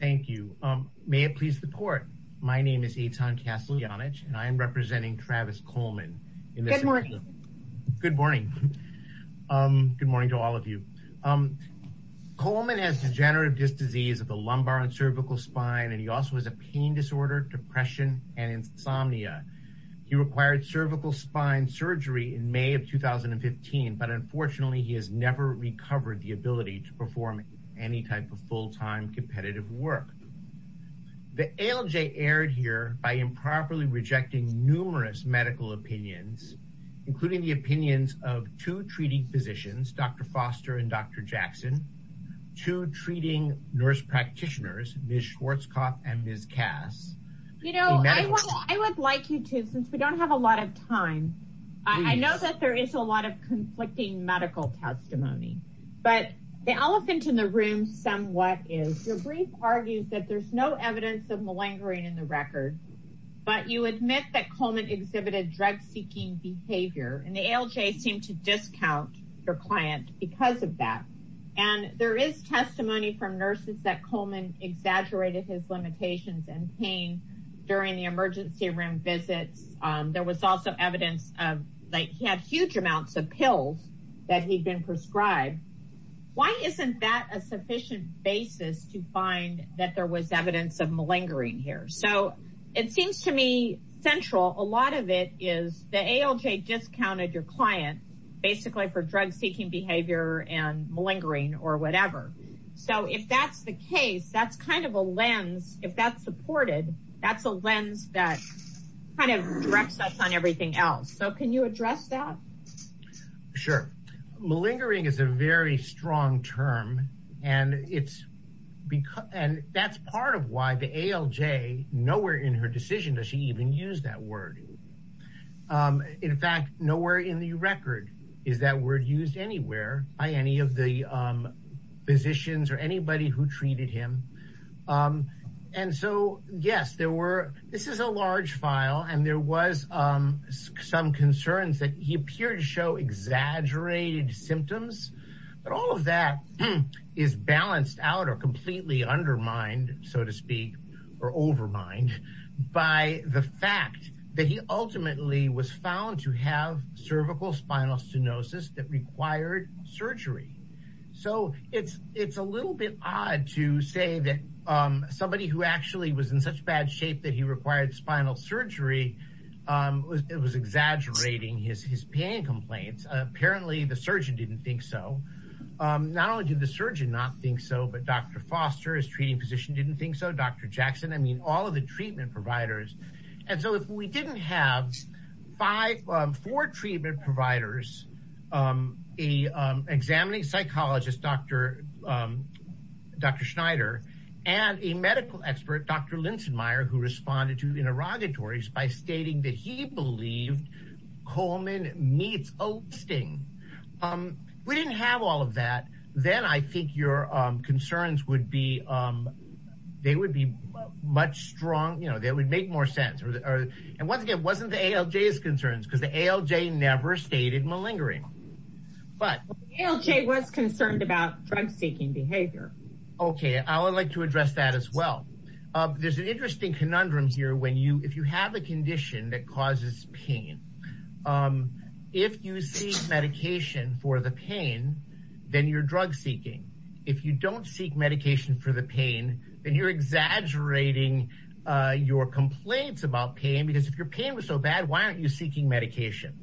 Thank you. May it please the court. My name is Eitan Kasteljanic and I am representing Travis Coleman. Good morning. Good morning. Good morning to all of you. Coleman has degenerative disc disease of the lumbar and cervical spine and he also has a pain disorder, depression, and insomnia. He required cervical spine surgery in May of 2015 but unfortunately he has never recovered the ability to perform any type of full-time competitive work. The ALJ aired here by improperly rejecting numerous medical opinions including the opinions of two treating physicians, Dr. Foster and Dr. Jackson, two treating nurse practitioners, Ms. Schwarzkopf and Ms. Kass. You know, I would like you to since we don't have a lot of time. I know that there is a lot of conflicting medical testimony but the elephant in the room somewhat is your brief argues that there's no evidence of malingering in the record but you admit that Coleman exhibited drug-seeking behavior and the ALJ seemed to discount your client because of that and there is testimony from nurses that Coleman exaggerated his limitations and pain during the emergency room visits. There was also evidence of like he had huge amounts of pills that he'd been prescribed. Why isn't that a sufficient basis to find that there was evidence of malingering here? So it seems to me central a lot of it is the ALJ discounted your client basically for drug-seeking behavior and malingering or whatever. So if that's the case that's kind of a lens if that's supported that's a lens that kind of directs us on everything else. So can you address that? Sure, malingering is a very strong term and it's because and that's part of why the ALJ nowhere in her decision does she even use that word. In fact nowhere in the record is that word used anywhere by any of the physicians or anybody who treated him and so yes there were this is a large file and there was some concerns that he appeared to show exaggerated symptoms but all of that is balanced out or completely undermined so to speak or overmined by the fact that he ultimately was found to have cervical spinal stenosis that required surgery. So it's a little bit odd to say that somebody who actually was in such bad shape that he required spinal surgery was exaggerating his pain complaints. Apparently the surgeon didn't think so. Not only did the surgeon not think so but Dr. Foster his treating physician didn't think so, Dr. Jackson, I mean all of the treatment providers and so if we didn't have five four treatment providers a examining psychologist Dr. Schneider and a medical expert Dr. Linsenmeier who responded to interrogatories by stating that he believed Coleman meets Osteen. We didn't have all of that then I think your concerns would be they would be much strong you know that would make more sense or and once again wasn't the ALJ's concerns because the ALJ never stated malingering. But ALJ was concerned about drug seeking behavior. Okay I would like to address that as well. There's an interesting conundrum here when you if you have a condition that causes pain if you seek medication for the pain then you're drug seeking. If you don't seek medication for the pain then you're exaggerating your complaints about pain because if your pain was so bad why aren't you seeking medication.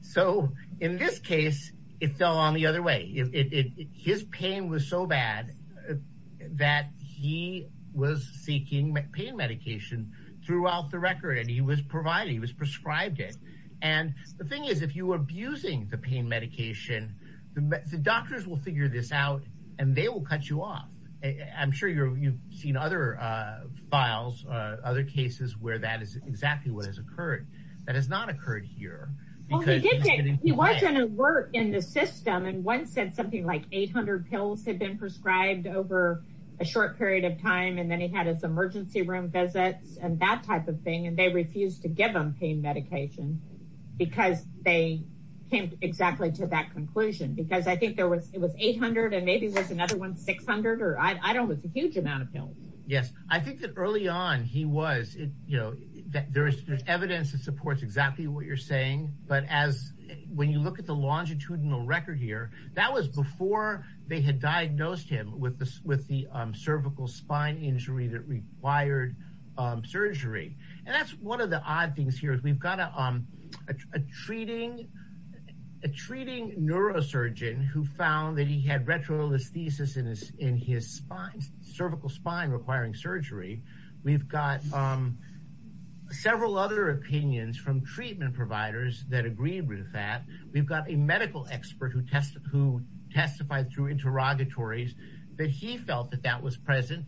So in this case it fell on the other way. His pain was so bad that he was seeking pain medication throughout the record and he was providing he was prescribed it and the thing is if you were abusing the pain medication the doctors will figure this out and they will cut you off. I'm sure you've seen other files other cases where that is exactly what has occurred that has not occurred here. He was an alert in the system and one said something like 800 pills had been prescribed over a short period of time and then he had his emergency room visits and that type of thing and they refused to give him pain medication because they came exactly to that conclusion because I think there was it was 800 and maybe there's another one 600 or I don't know it's a huge amount of pills. Yes I think that early on he was you know there's there's evidence that supports exactly what you're saying but as when you look at the longitudinal record here that was before they had diagnosed him with the cervical spine injury that required surgery and that's one of the odd things here is we've got a treating neurosurgeon who found that he had retrolysis thesis in his spine cervical spine requiring surgery. We've got several other opinions from treatment providers that agreed with that. We've got a medical expert who testified through interrogatories that he felt that that was present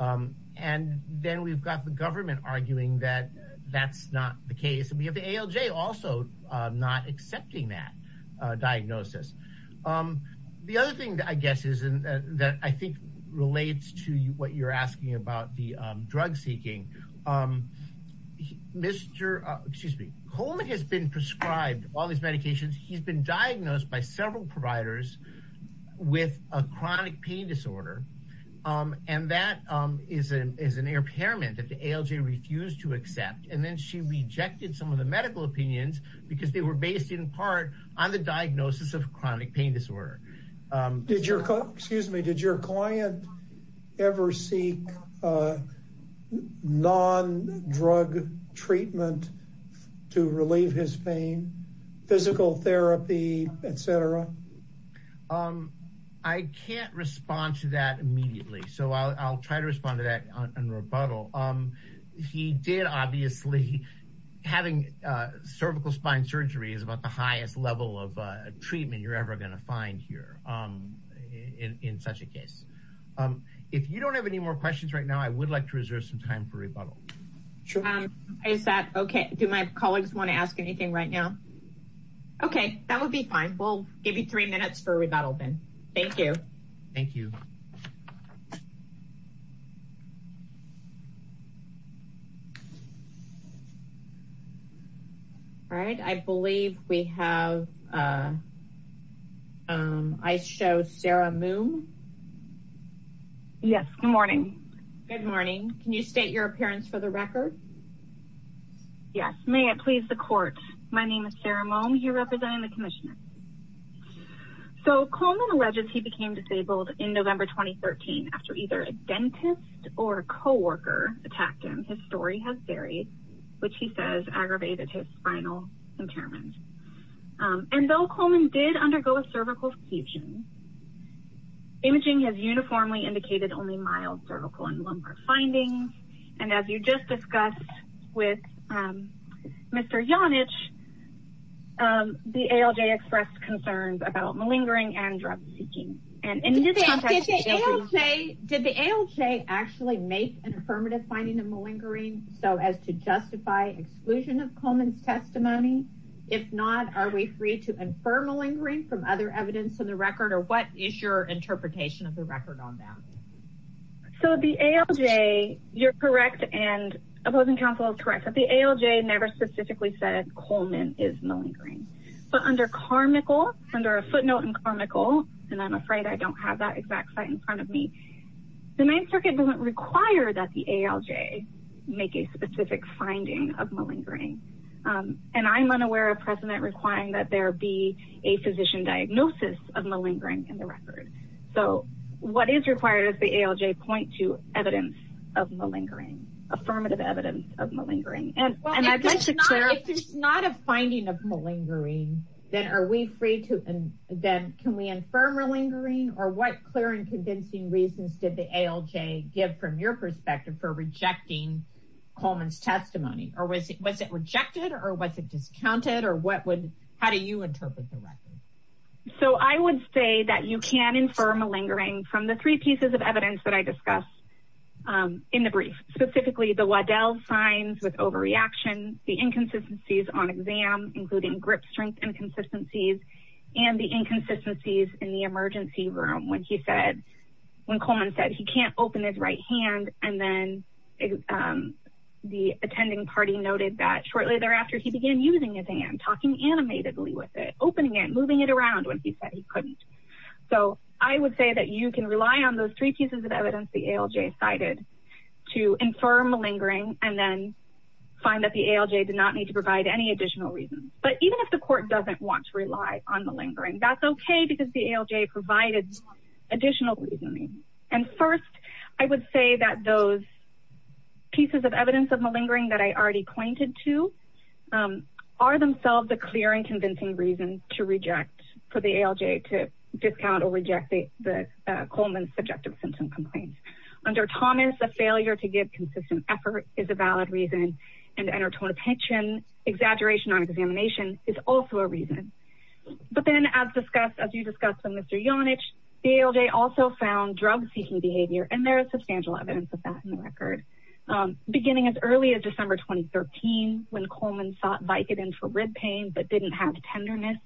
and then we've got the government arguing that that's not the case and we have the ALJ also not accepting that diagnosis. The other thing that I guess is and that I think relates to what you're asking about the drug seeking. Mr. excuse me Kolnick has been prescribed all these medications he's been diagnosed by several providers with a chronic pain disorder and that is an impairment that the ALJ refused to accept and then she rejected some of the medical opinions because they were based in part on the diagnosis of chronic pain disorder. Did your excuse me did your client ever seek a non-drug treatment to relieve his pain physical therapy etc? I can't respond to that immediately so I'll try to respond to that and rebuttal. He did obviously having cervical spine surgery is about the highest level of treatment you're ever going to find here in such a case. If you don't have any more questions right now I would like to reserve some time for rebuttal. Is that okay? Do my colleagues want to ask anything right now? Okay that would be fine. We'll give you three minutes for rebuttal then. Thank you. Thank you. All right I believe we have I show Sarah Moome. Yes good morning. Good morning. Can you state your appearance for the record? Yes may it please the court. My name is Sarah Moome here representing the commissioners. So Coleman alleges he became disabled in November 2013 after either a dentist or a co-worker attacked him. His story has varied which he says aggravated his spinal impairment and though Coleman did undergo a cervical fusion imaging has uniformly indicated only mild cervical and lumbar findings and as you just discussed with Mr. Janich the ALJ expressed concerns about malingering and drug seeking. Did the ALJ actually make an affirmative finding of malingering so as to justify exclusion of Coleman's testimony? If not are we free to infer malingering from other evidence in the record or what is your interpretation of the record on that? So the ALJ you're correct and opposing counsel is correct but the ALJ never specifically said Coleman is malingering but under Carmichael under a footnote in Carmichael and I'm afraid I don't have that exact site in front of me the main circuit doesn't require that the ALJ make a specific finding of malingering and I'm unaware of precedent requiring that there be a physician diagnosis of malingering in the record. So what is required is the ALJ point to affirmative evidence of malingering. If there's not a finding of malingering then can we infer malingering or what clear and convincing reasons did the ALJ give from your perspective for rejecting Coleman's testimony or was it rejected or was it discounted or how do you interpret the record? So I would say that you can infer malingering from the three pieces of evidence that I discussed in the brief specifically the Waddell signs with overreaction the inconsistencies on exam including grip strength inconsistencies and the inconsistencies in the emergency room when he said when Coleman said he can't open his right hand and then the attending party noted that shortly thereafter he began using his hand talking animatedly with opening it moving it around when he said he couldn't. So I would say that you can rely on those three pieces of evidence the ALJ cited to infer malingering and then find that the ALJ did not need to provide any additional reasons but even if the court doesn't want to rely on malingering that's okay because the ALJ provided additional reasoning and first I would say that those pieces of evidence of malingering that I already pointed to are themselves a clear and to reject for the ALJ to discount or reject the Coleman's subjective symptom complaints. Under Thomas a failure to give consistent effort is a valid reason and entertainment attention exaggeration on examination is also a reason. But then as discussed as you discussed with Mr. Yonich the ALJ also found drug seeking behavior and there is substantial evidence of that in the record beginning as early as December 2013 when Coleman sought Vicodin for rib pain but didn't have tenderness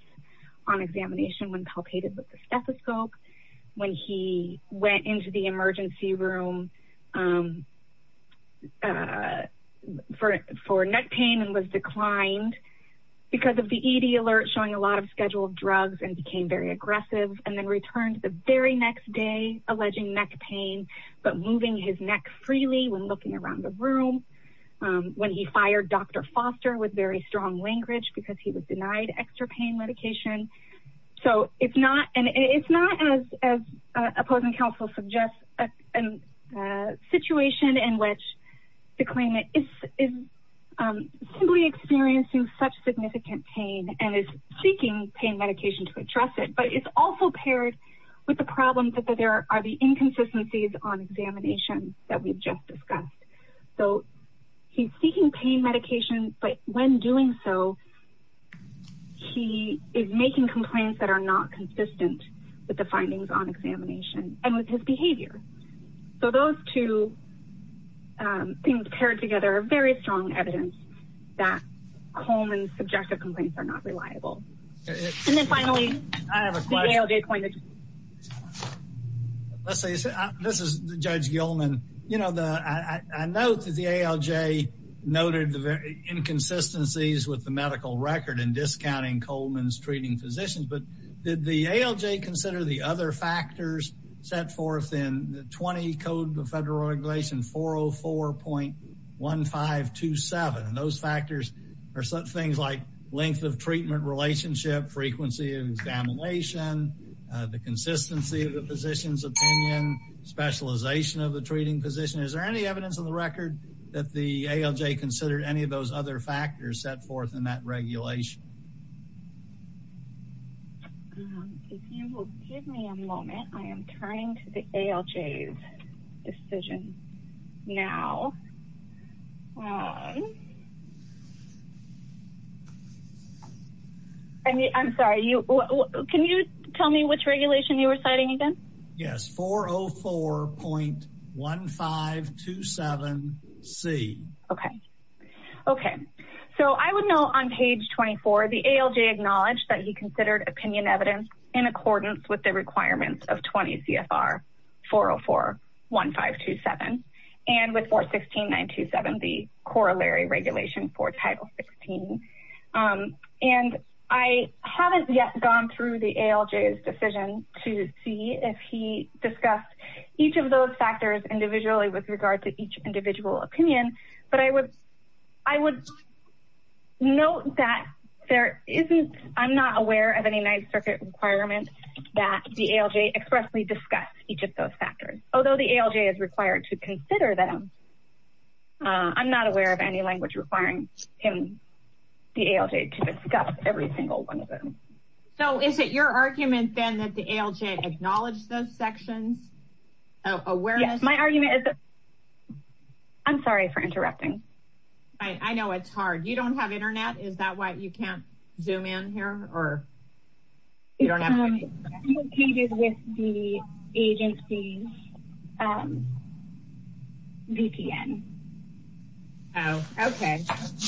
on examination when palpated with the stethoscope when he went into the emergency room for neck pain and was declined because of the ED alert showing a lot of scheduled drugs and became very aggressive and then returned the very next day alleging neck pain but moving his neck freely when looking around the room when he fired Dr. Foster with very strong language because he was denied extra pain medication. So it's not and it's not as as opposing counsel suggests a situation in which the claimant is simply experiencing such significant pain and is seeking pain medication to address it but it's also paired with the problem that there are the inconsistencies on examination that we've just discussed. So he's seeking pain medication but when doing so he is making complaints that are not consistent with the findings on examination and with his behavior. So those two things paired together are very strong evidence that Coleman's subjective complaints are not reliable. And then finally I have a question. Let's say this is Judge Gilman. You know the I note that the ALJ noted the inconsistencies with the medical record in discounting Coleman's treating physicians but did the ALJ consider the other factors set forth in the 20 code of federal regulation 404.1527 and those factors are some things like length of treatment relationship, frequency of examination, the consistency of the physician's opinion, specialization of the treating position. Is there any evidence on the record that the ALJ considered any of those other factors set forth in that regulation? If you will give me a moment I am turning to the ALJ's decision now. I mean I'm sorry you can you tell me which regulation you were citing again? Yes 404.1527C. Okay okay so I would know on page 24 the ALJ acknowledged that he considered opinion evidence in accordance with the requirements of 20 CFR 404.1527 and with 416.927 the corollary regulation for title 16. And I haven't yet gone through the ALJ's decision to see if he discussed each of those factors individually with regard to each individual opinion but I would I would note that there isn't I'm not aware of any ninth circuit requirements that the ALJ expressly discussed each of those factors although the ALJ is required to consider them. I'm not aware of any language requiring him the ALJ to discuss every single one of them. So is it your argument then that the ALJ acknowledged those sections of awareness? My argument is I'm sorry for interrupting. I know it's hard you don't have internet is that you can't zoom in here or you don't have any? I'm located with the agency's VPN. Oh okay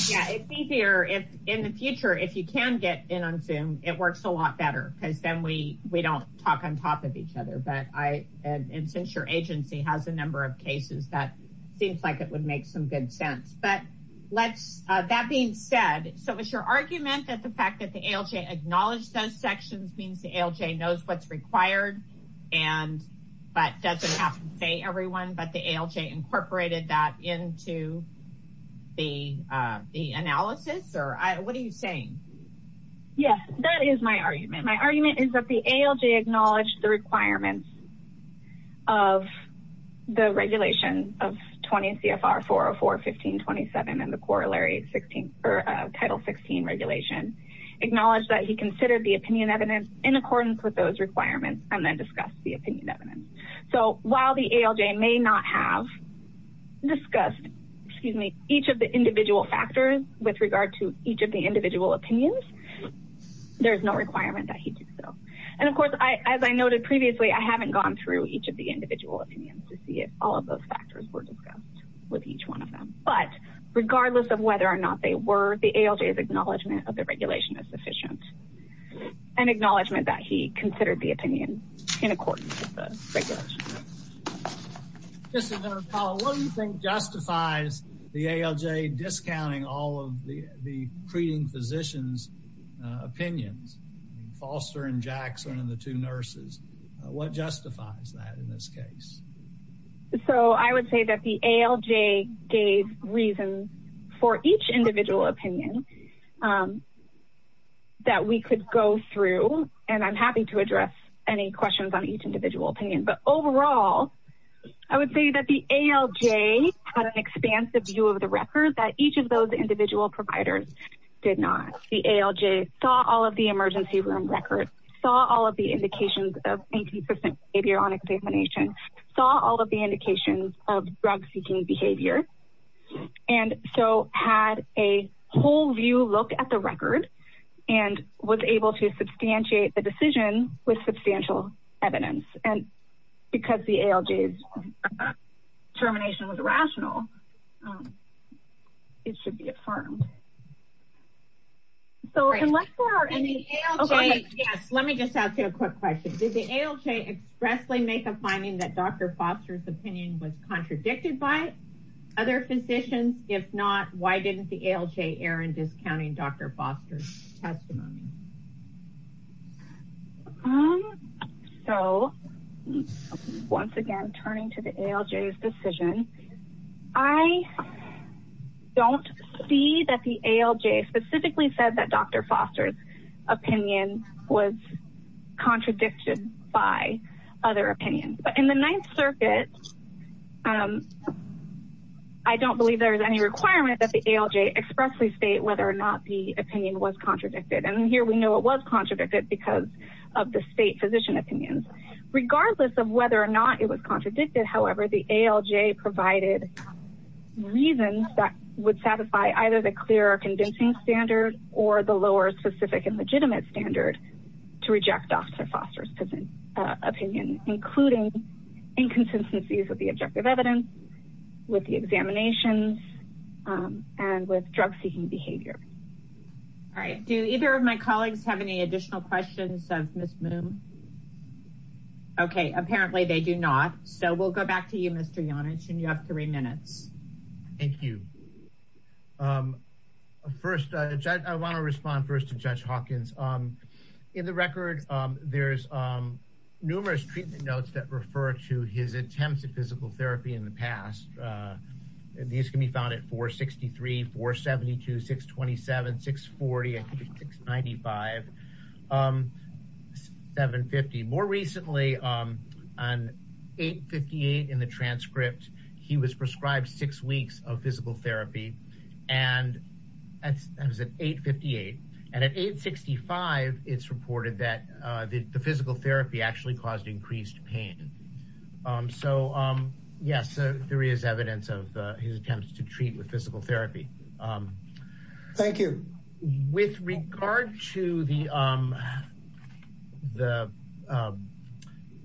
yeah it's easier if in the future if you can get in on zoom it works a lot better because then we we don't talk on top of each other but I and since your agency has a number of cases that let's uh that being said so is your argument that the fact that the ALJ acknowledged those sections means the ALJ knows what's required and but doesn't have to say everyone but the ALJ incorporated that into the uh the analysis or what are you saying? Yes that is my argument. My argument is that the ALJ acknowledged the requirements of the regulation of 20 CFR 404 1527 and the corollary 16 or title 16 regulation. Acknowledged that he considered the opinion evidence in accordance with those requirements and then discussed the opinion evidence. So while the ALJ may not have discussed excuse me each of the individual factors with regard to each of the individual opinions there's no requirement that he did so and of course I as I noted previously I haven't gone through each of the individual opinions to see if all of those factors were discussed with each one of them but regardless of whether or not they were the ALJ's acknowledgement of the regulation is sufficient an acknowledgement that he considered the opinion in accordance with the regulation. Just a minute Paula what do you think justifies the ALJ discounting all of the the treating physicians opinions Foster and Jackson and the two nurses what justifies that in this case? So I would say that the ALJ gave reasons for each individual opinion that we could go through and I'm happy to address any questions on each that each of those individual providers did not. The ALJ saw all of the emergency room records saw all of the indications of inconsistent behavior on examination saw all of the indications of drug seeking behavior and so had a whole view look at the record and was able to substantiate the decision with substantial evidence and because the ALJ's determination was rational it should be affirmed. So unless there are any okay yes let me just ask you a quick question did the ALJ expressly make a finding that Dr. Foster's opinion was contradicted by other physicians if not why didn't the ALJ err in discounting Dr. Foster's testimony? So once again turning to the ALJ's decision I don't see that the ALJ specifically said that Dr. Foster's opinion was contradicted by other opinions but in the Ninth Circuit I don't believe there is any requirement that the ALJ expressly state whether or not the opinion was contradicted and here we know it was contradicted because of the state physician opinions regardless of whether or not it was contradicted however the ALJ provided reasons that would satisfy either the clear or convincing standard or the lower specific and legitimate standard to reject Dr. Foster's opinion including inconsistencies with the objective evidence with the examinations and with drug seeking behavior. All right do either of my colleagues have any additional questions of Ms. Moon? Okay apparently they do not so we'll go back to you Mr. Janich and you have three minutes. Thank you. First I want to respond first to Judge Hawkins. In the record there's numerous treatment notes that refer to his attempts at physical therapy in the past these can be found at 463, 472, 627, 640, 695, 750. More recently on 858 in the transcript he was prescribed six weeks of physical therapy and that was at 858 and at 865 it's reported that the physical therapy actually caused increased pain. So yes there is evidence of his attempts to treat with physical therapy. Thank you. With regard to the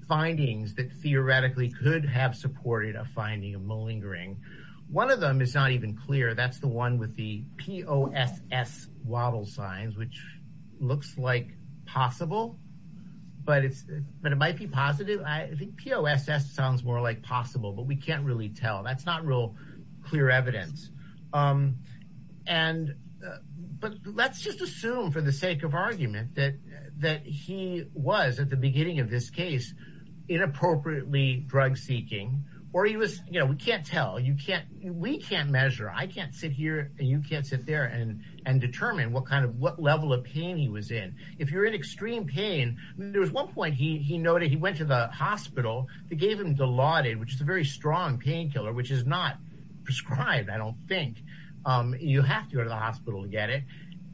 findings that theoretically could have supported a finding of malingering one of them is not even clear that's the one with the POSS wobble signs which looks like possible but it's but it might be positive I think POSS sounds more like possible but we can't really tell that's not real clear evidence. And but let's just assume for the sake of argument that that he was at the beginning of this case inappropriately drug seeking or he was you know we can't tell you can't we can't measure I can't hear and you can't sit there and and determine what kind of what level of pain he was in. If you're in extreme pain there was one point he he noted he went to the hospital they gave him Dilaudid which is a very strong painkiller which is not prescribed I don't think you have to go to the hospital to get it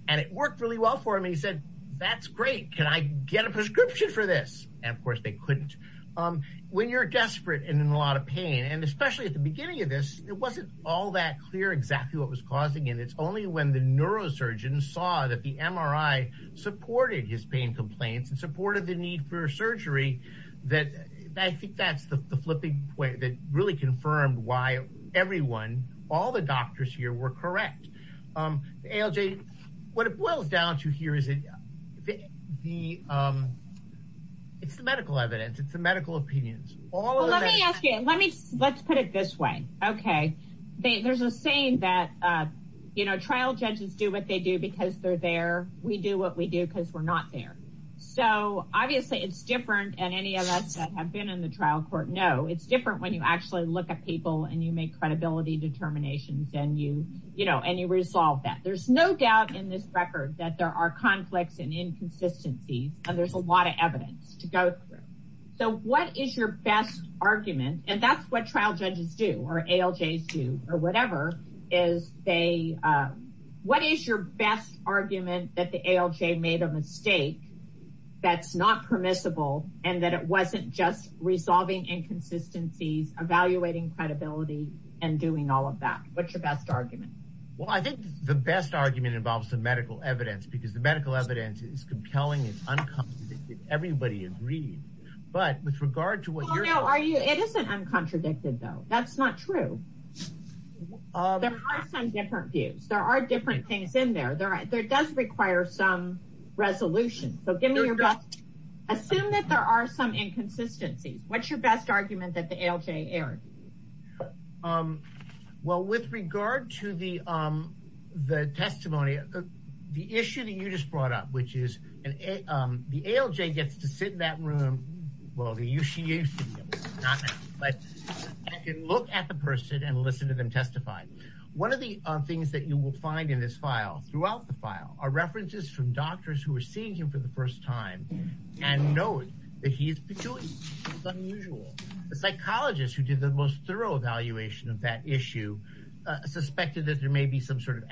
and it worked really well for him and he said that's great can I get a prescription for this and of course they couldn't. When you're desperate and in a lot of pain and it's only when the neurosurgeon saw that the MRI supported his pain complaints and supported the need for surgery that I think that's the flipping point that really confirmed why everyone all the doctors here were correct. ALJ what it boils down to here is it the it's the medical evidence it's the medical opinions. Well let me ask you let me let's put it this way okay there's a saying that you know trial judges do what they do because they're there we do what we do because we're not there. So obviously it's different and any of us that have been in the trial court know it's different when you actually look at people and you make credibility determinations and you you know and you resolve that. There's no doubt in this record that there are conflicts and inconsistencies and there's a lot of evidence to go through. So what is your best argument and that's what trial judges do or ALJs do or whatever is they what is your best argument that the ALJ made a mistake that's not permissible and that it wasn't just resolving inconsistencies evaluating credibility and doing all of that. What's your best argument? Well I think the best argument involves the medical evidence because the medical evidence is compelling it's uncomplicated everybody agreed but with regard to what you're. No are you it isn't uncontradicted though that's not true there are some different views there are different things in there there does require some resolution so give me your best assume that there are some inconsistencies what's your best argument that the ALJ erred? Well with regard to the the testimony the issue that you just brought up which and the ALJ gets to sit in that room well the UCA but I can look at the person and listen to them testify. One of the things that you will find in this file throughout the file are references from doctors who are seeing him for the first time and note that he's peculiar unusual the psychologist who did the most thorough evaluation of that issue suspected that there may be some sort of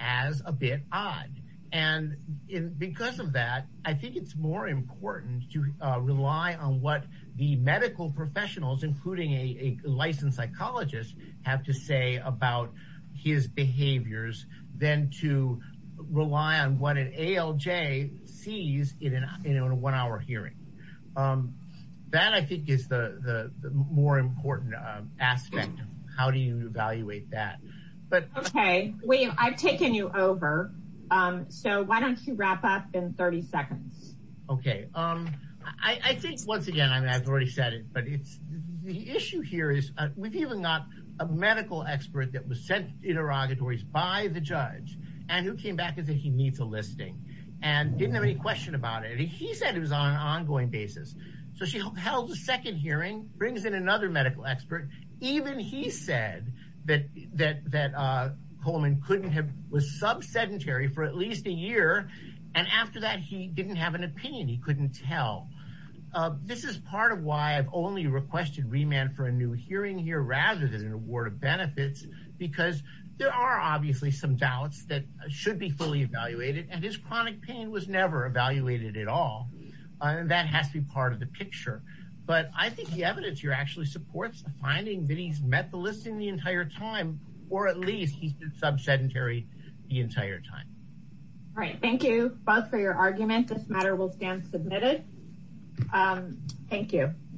as a bit odd and in because of that I think it's more important to rely on what the medical professionals including a licensed psychologist have to say about his behaviors than to rely on what an ALJ sees in an in a one-hour hearing. That I think is the the more important aspect how do you evaluate that? But okay William I've taken you over so why don't you wrap up in 30 seconds. Okay I think once again I've already said it but it's the issue here is we've even got a medical expert that was sent interrogatories by the judge and who came back and said he needs a listing and didn't have any question about it he said it was on an ongoing basis so she held the second hearing brings in another medical expert even he said that that that Coleman couldn't have was sub-sedentary for at least a year and after that he didn't have an opinion he couldn't tell. This is part of why I've only requested remand for a new hearing here rather than an award of benefits because there are obviously some doubts that should be fully evaluated and his chronic pain was never evaluated at all and that has to be part of the picture but I think the evidence here actually supports the finding that he's met the listing the entire time or at least he's been sub-sedentary the entire time. All right thank you both for your argument this matter will stand submitted. Thank you.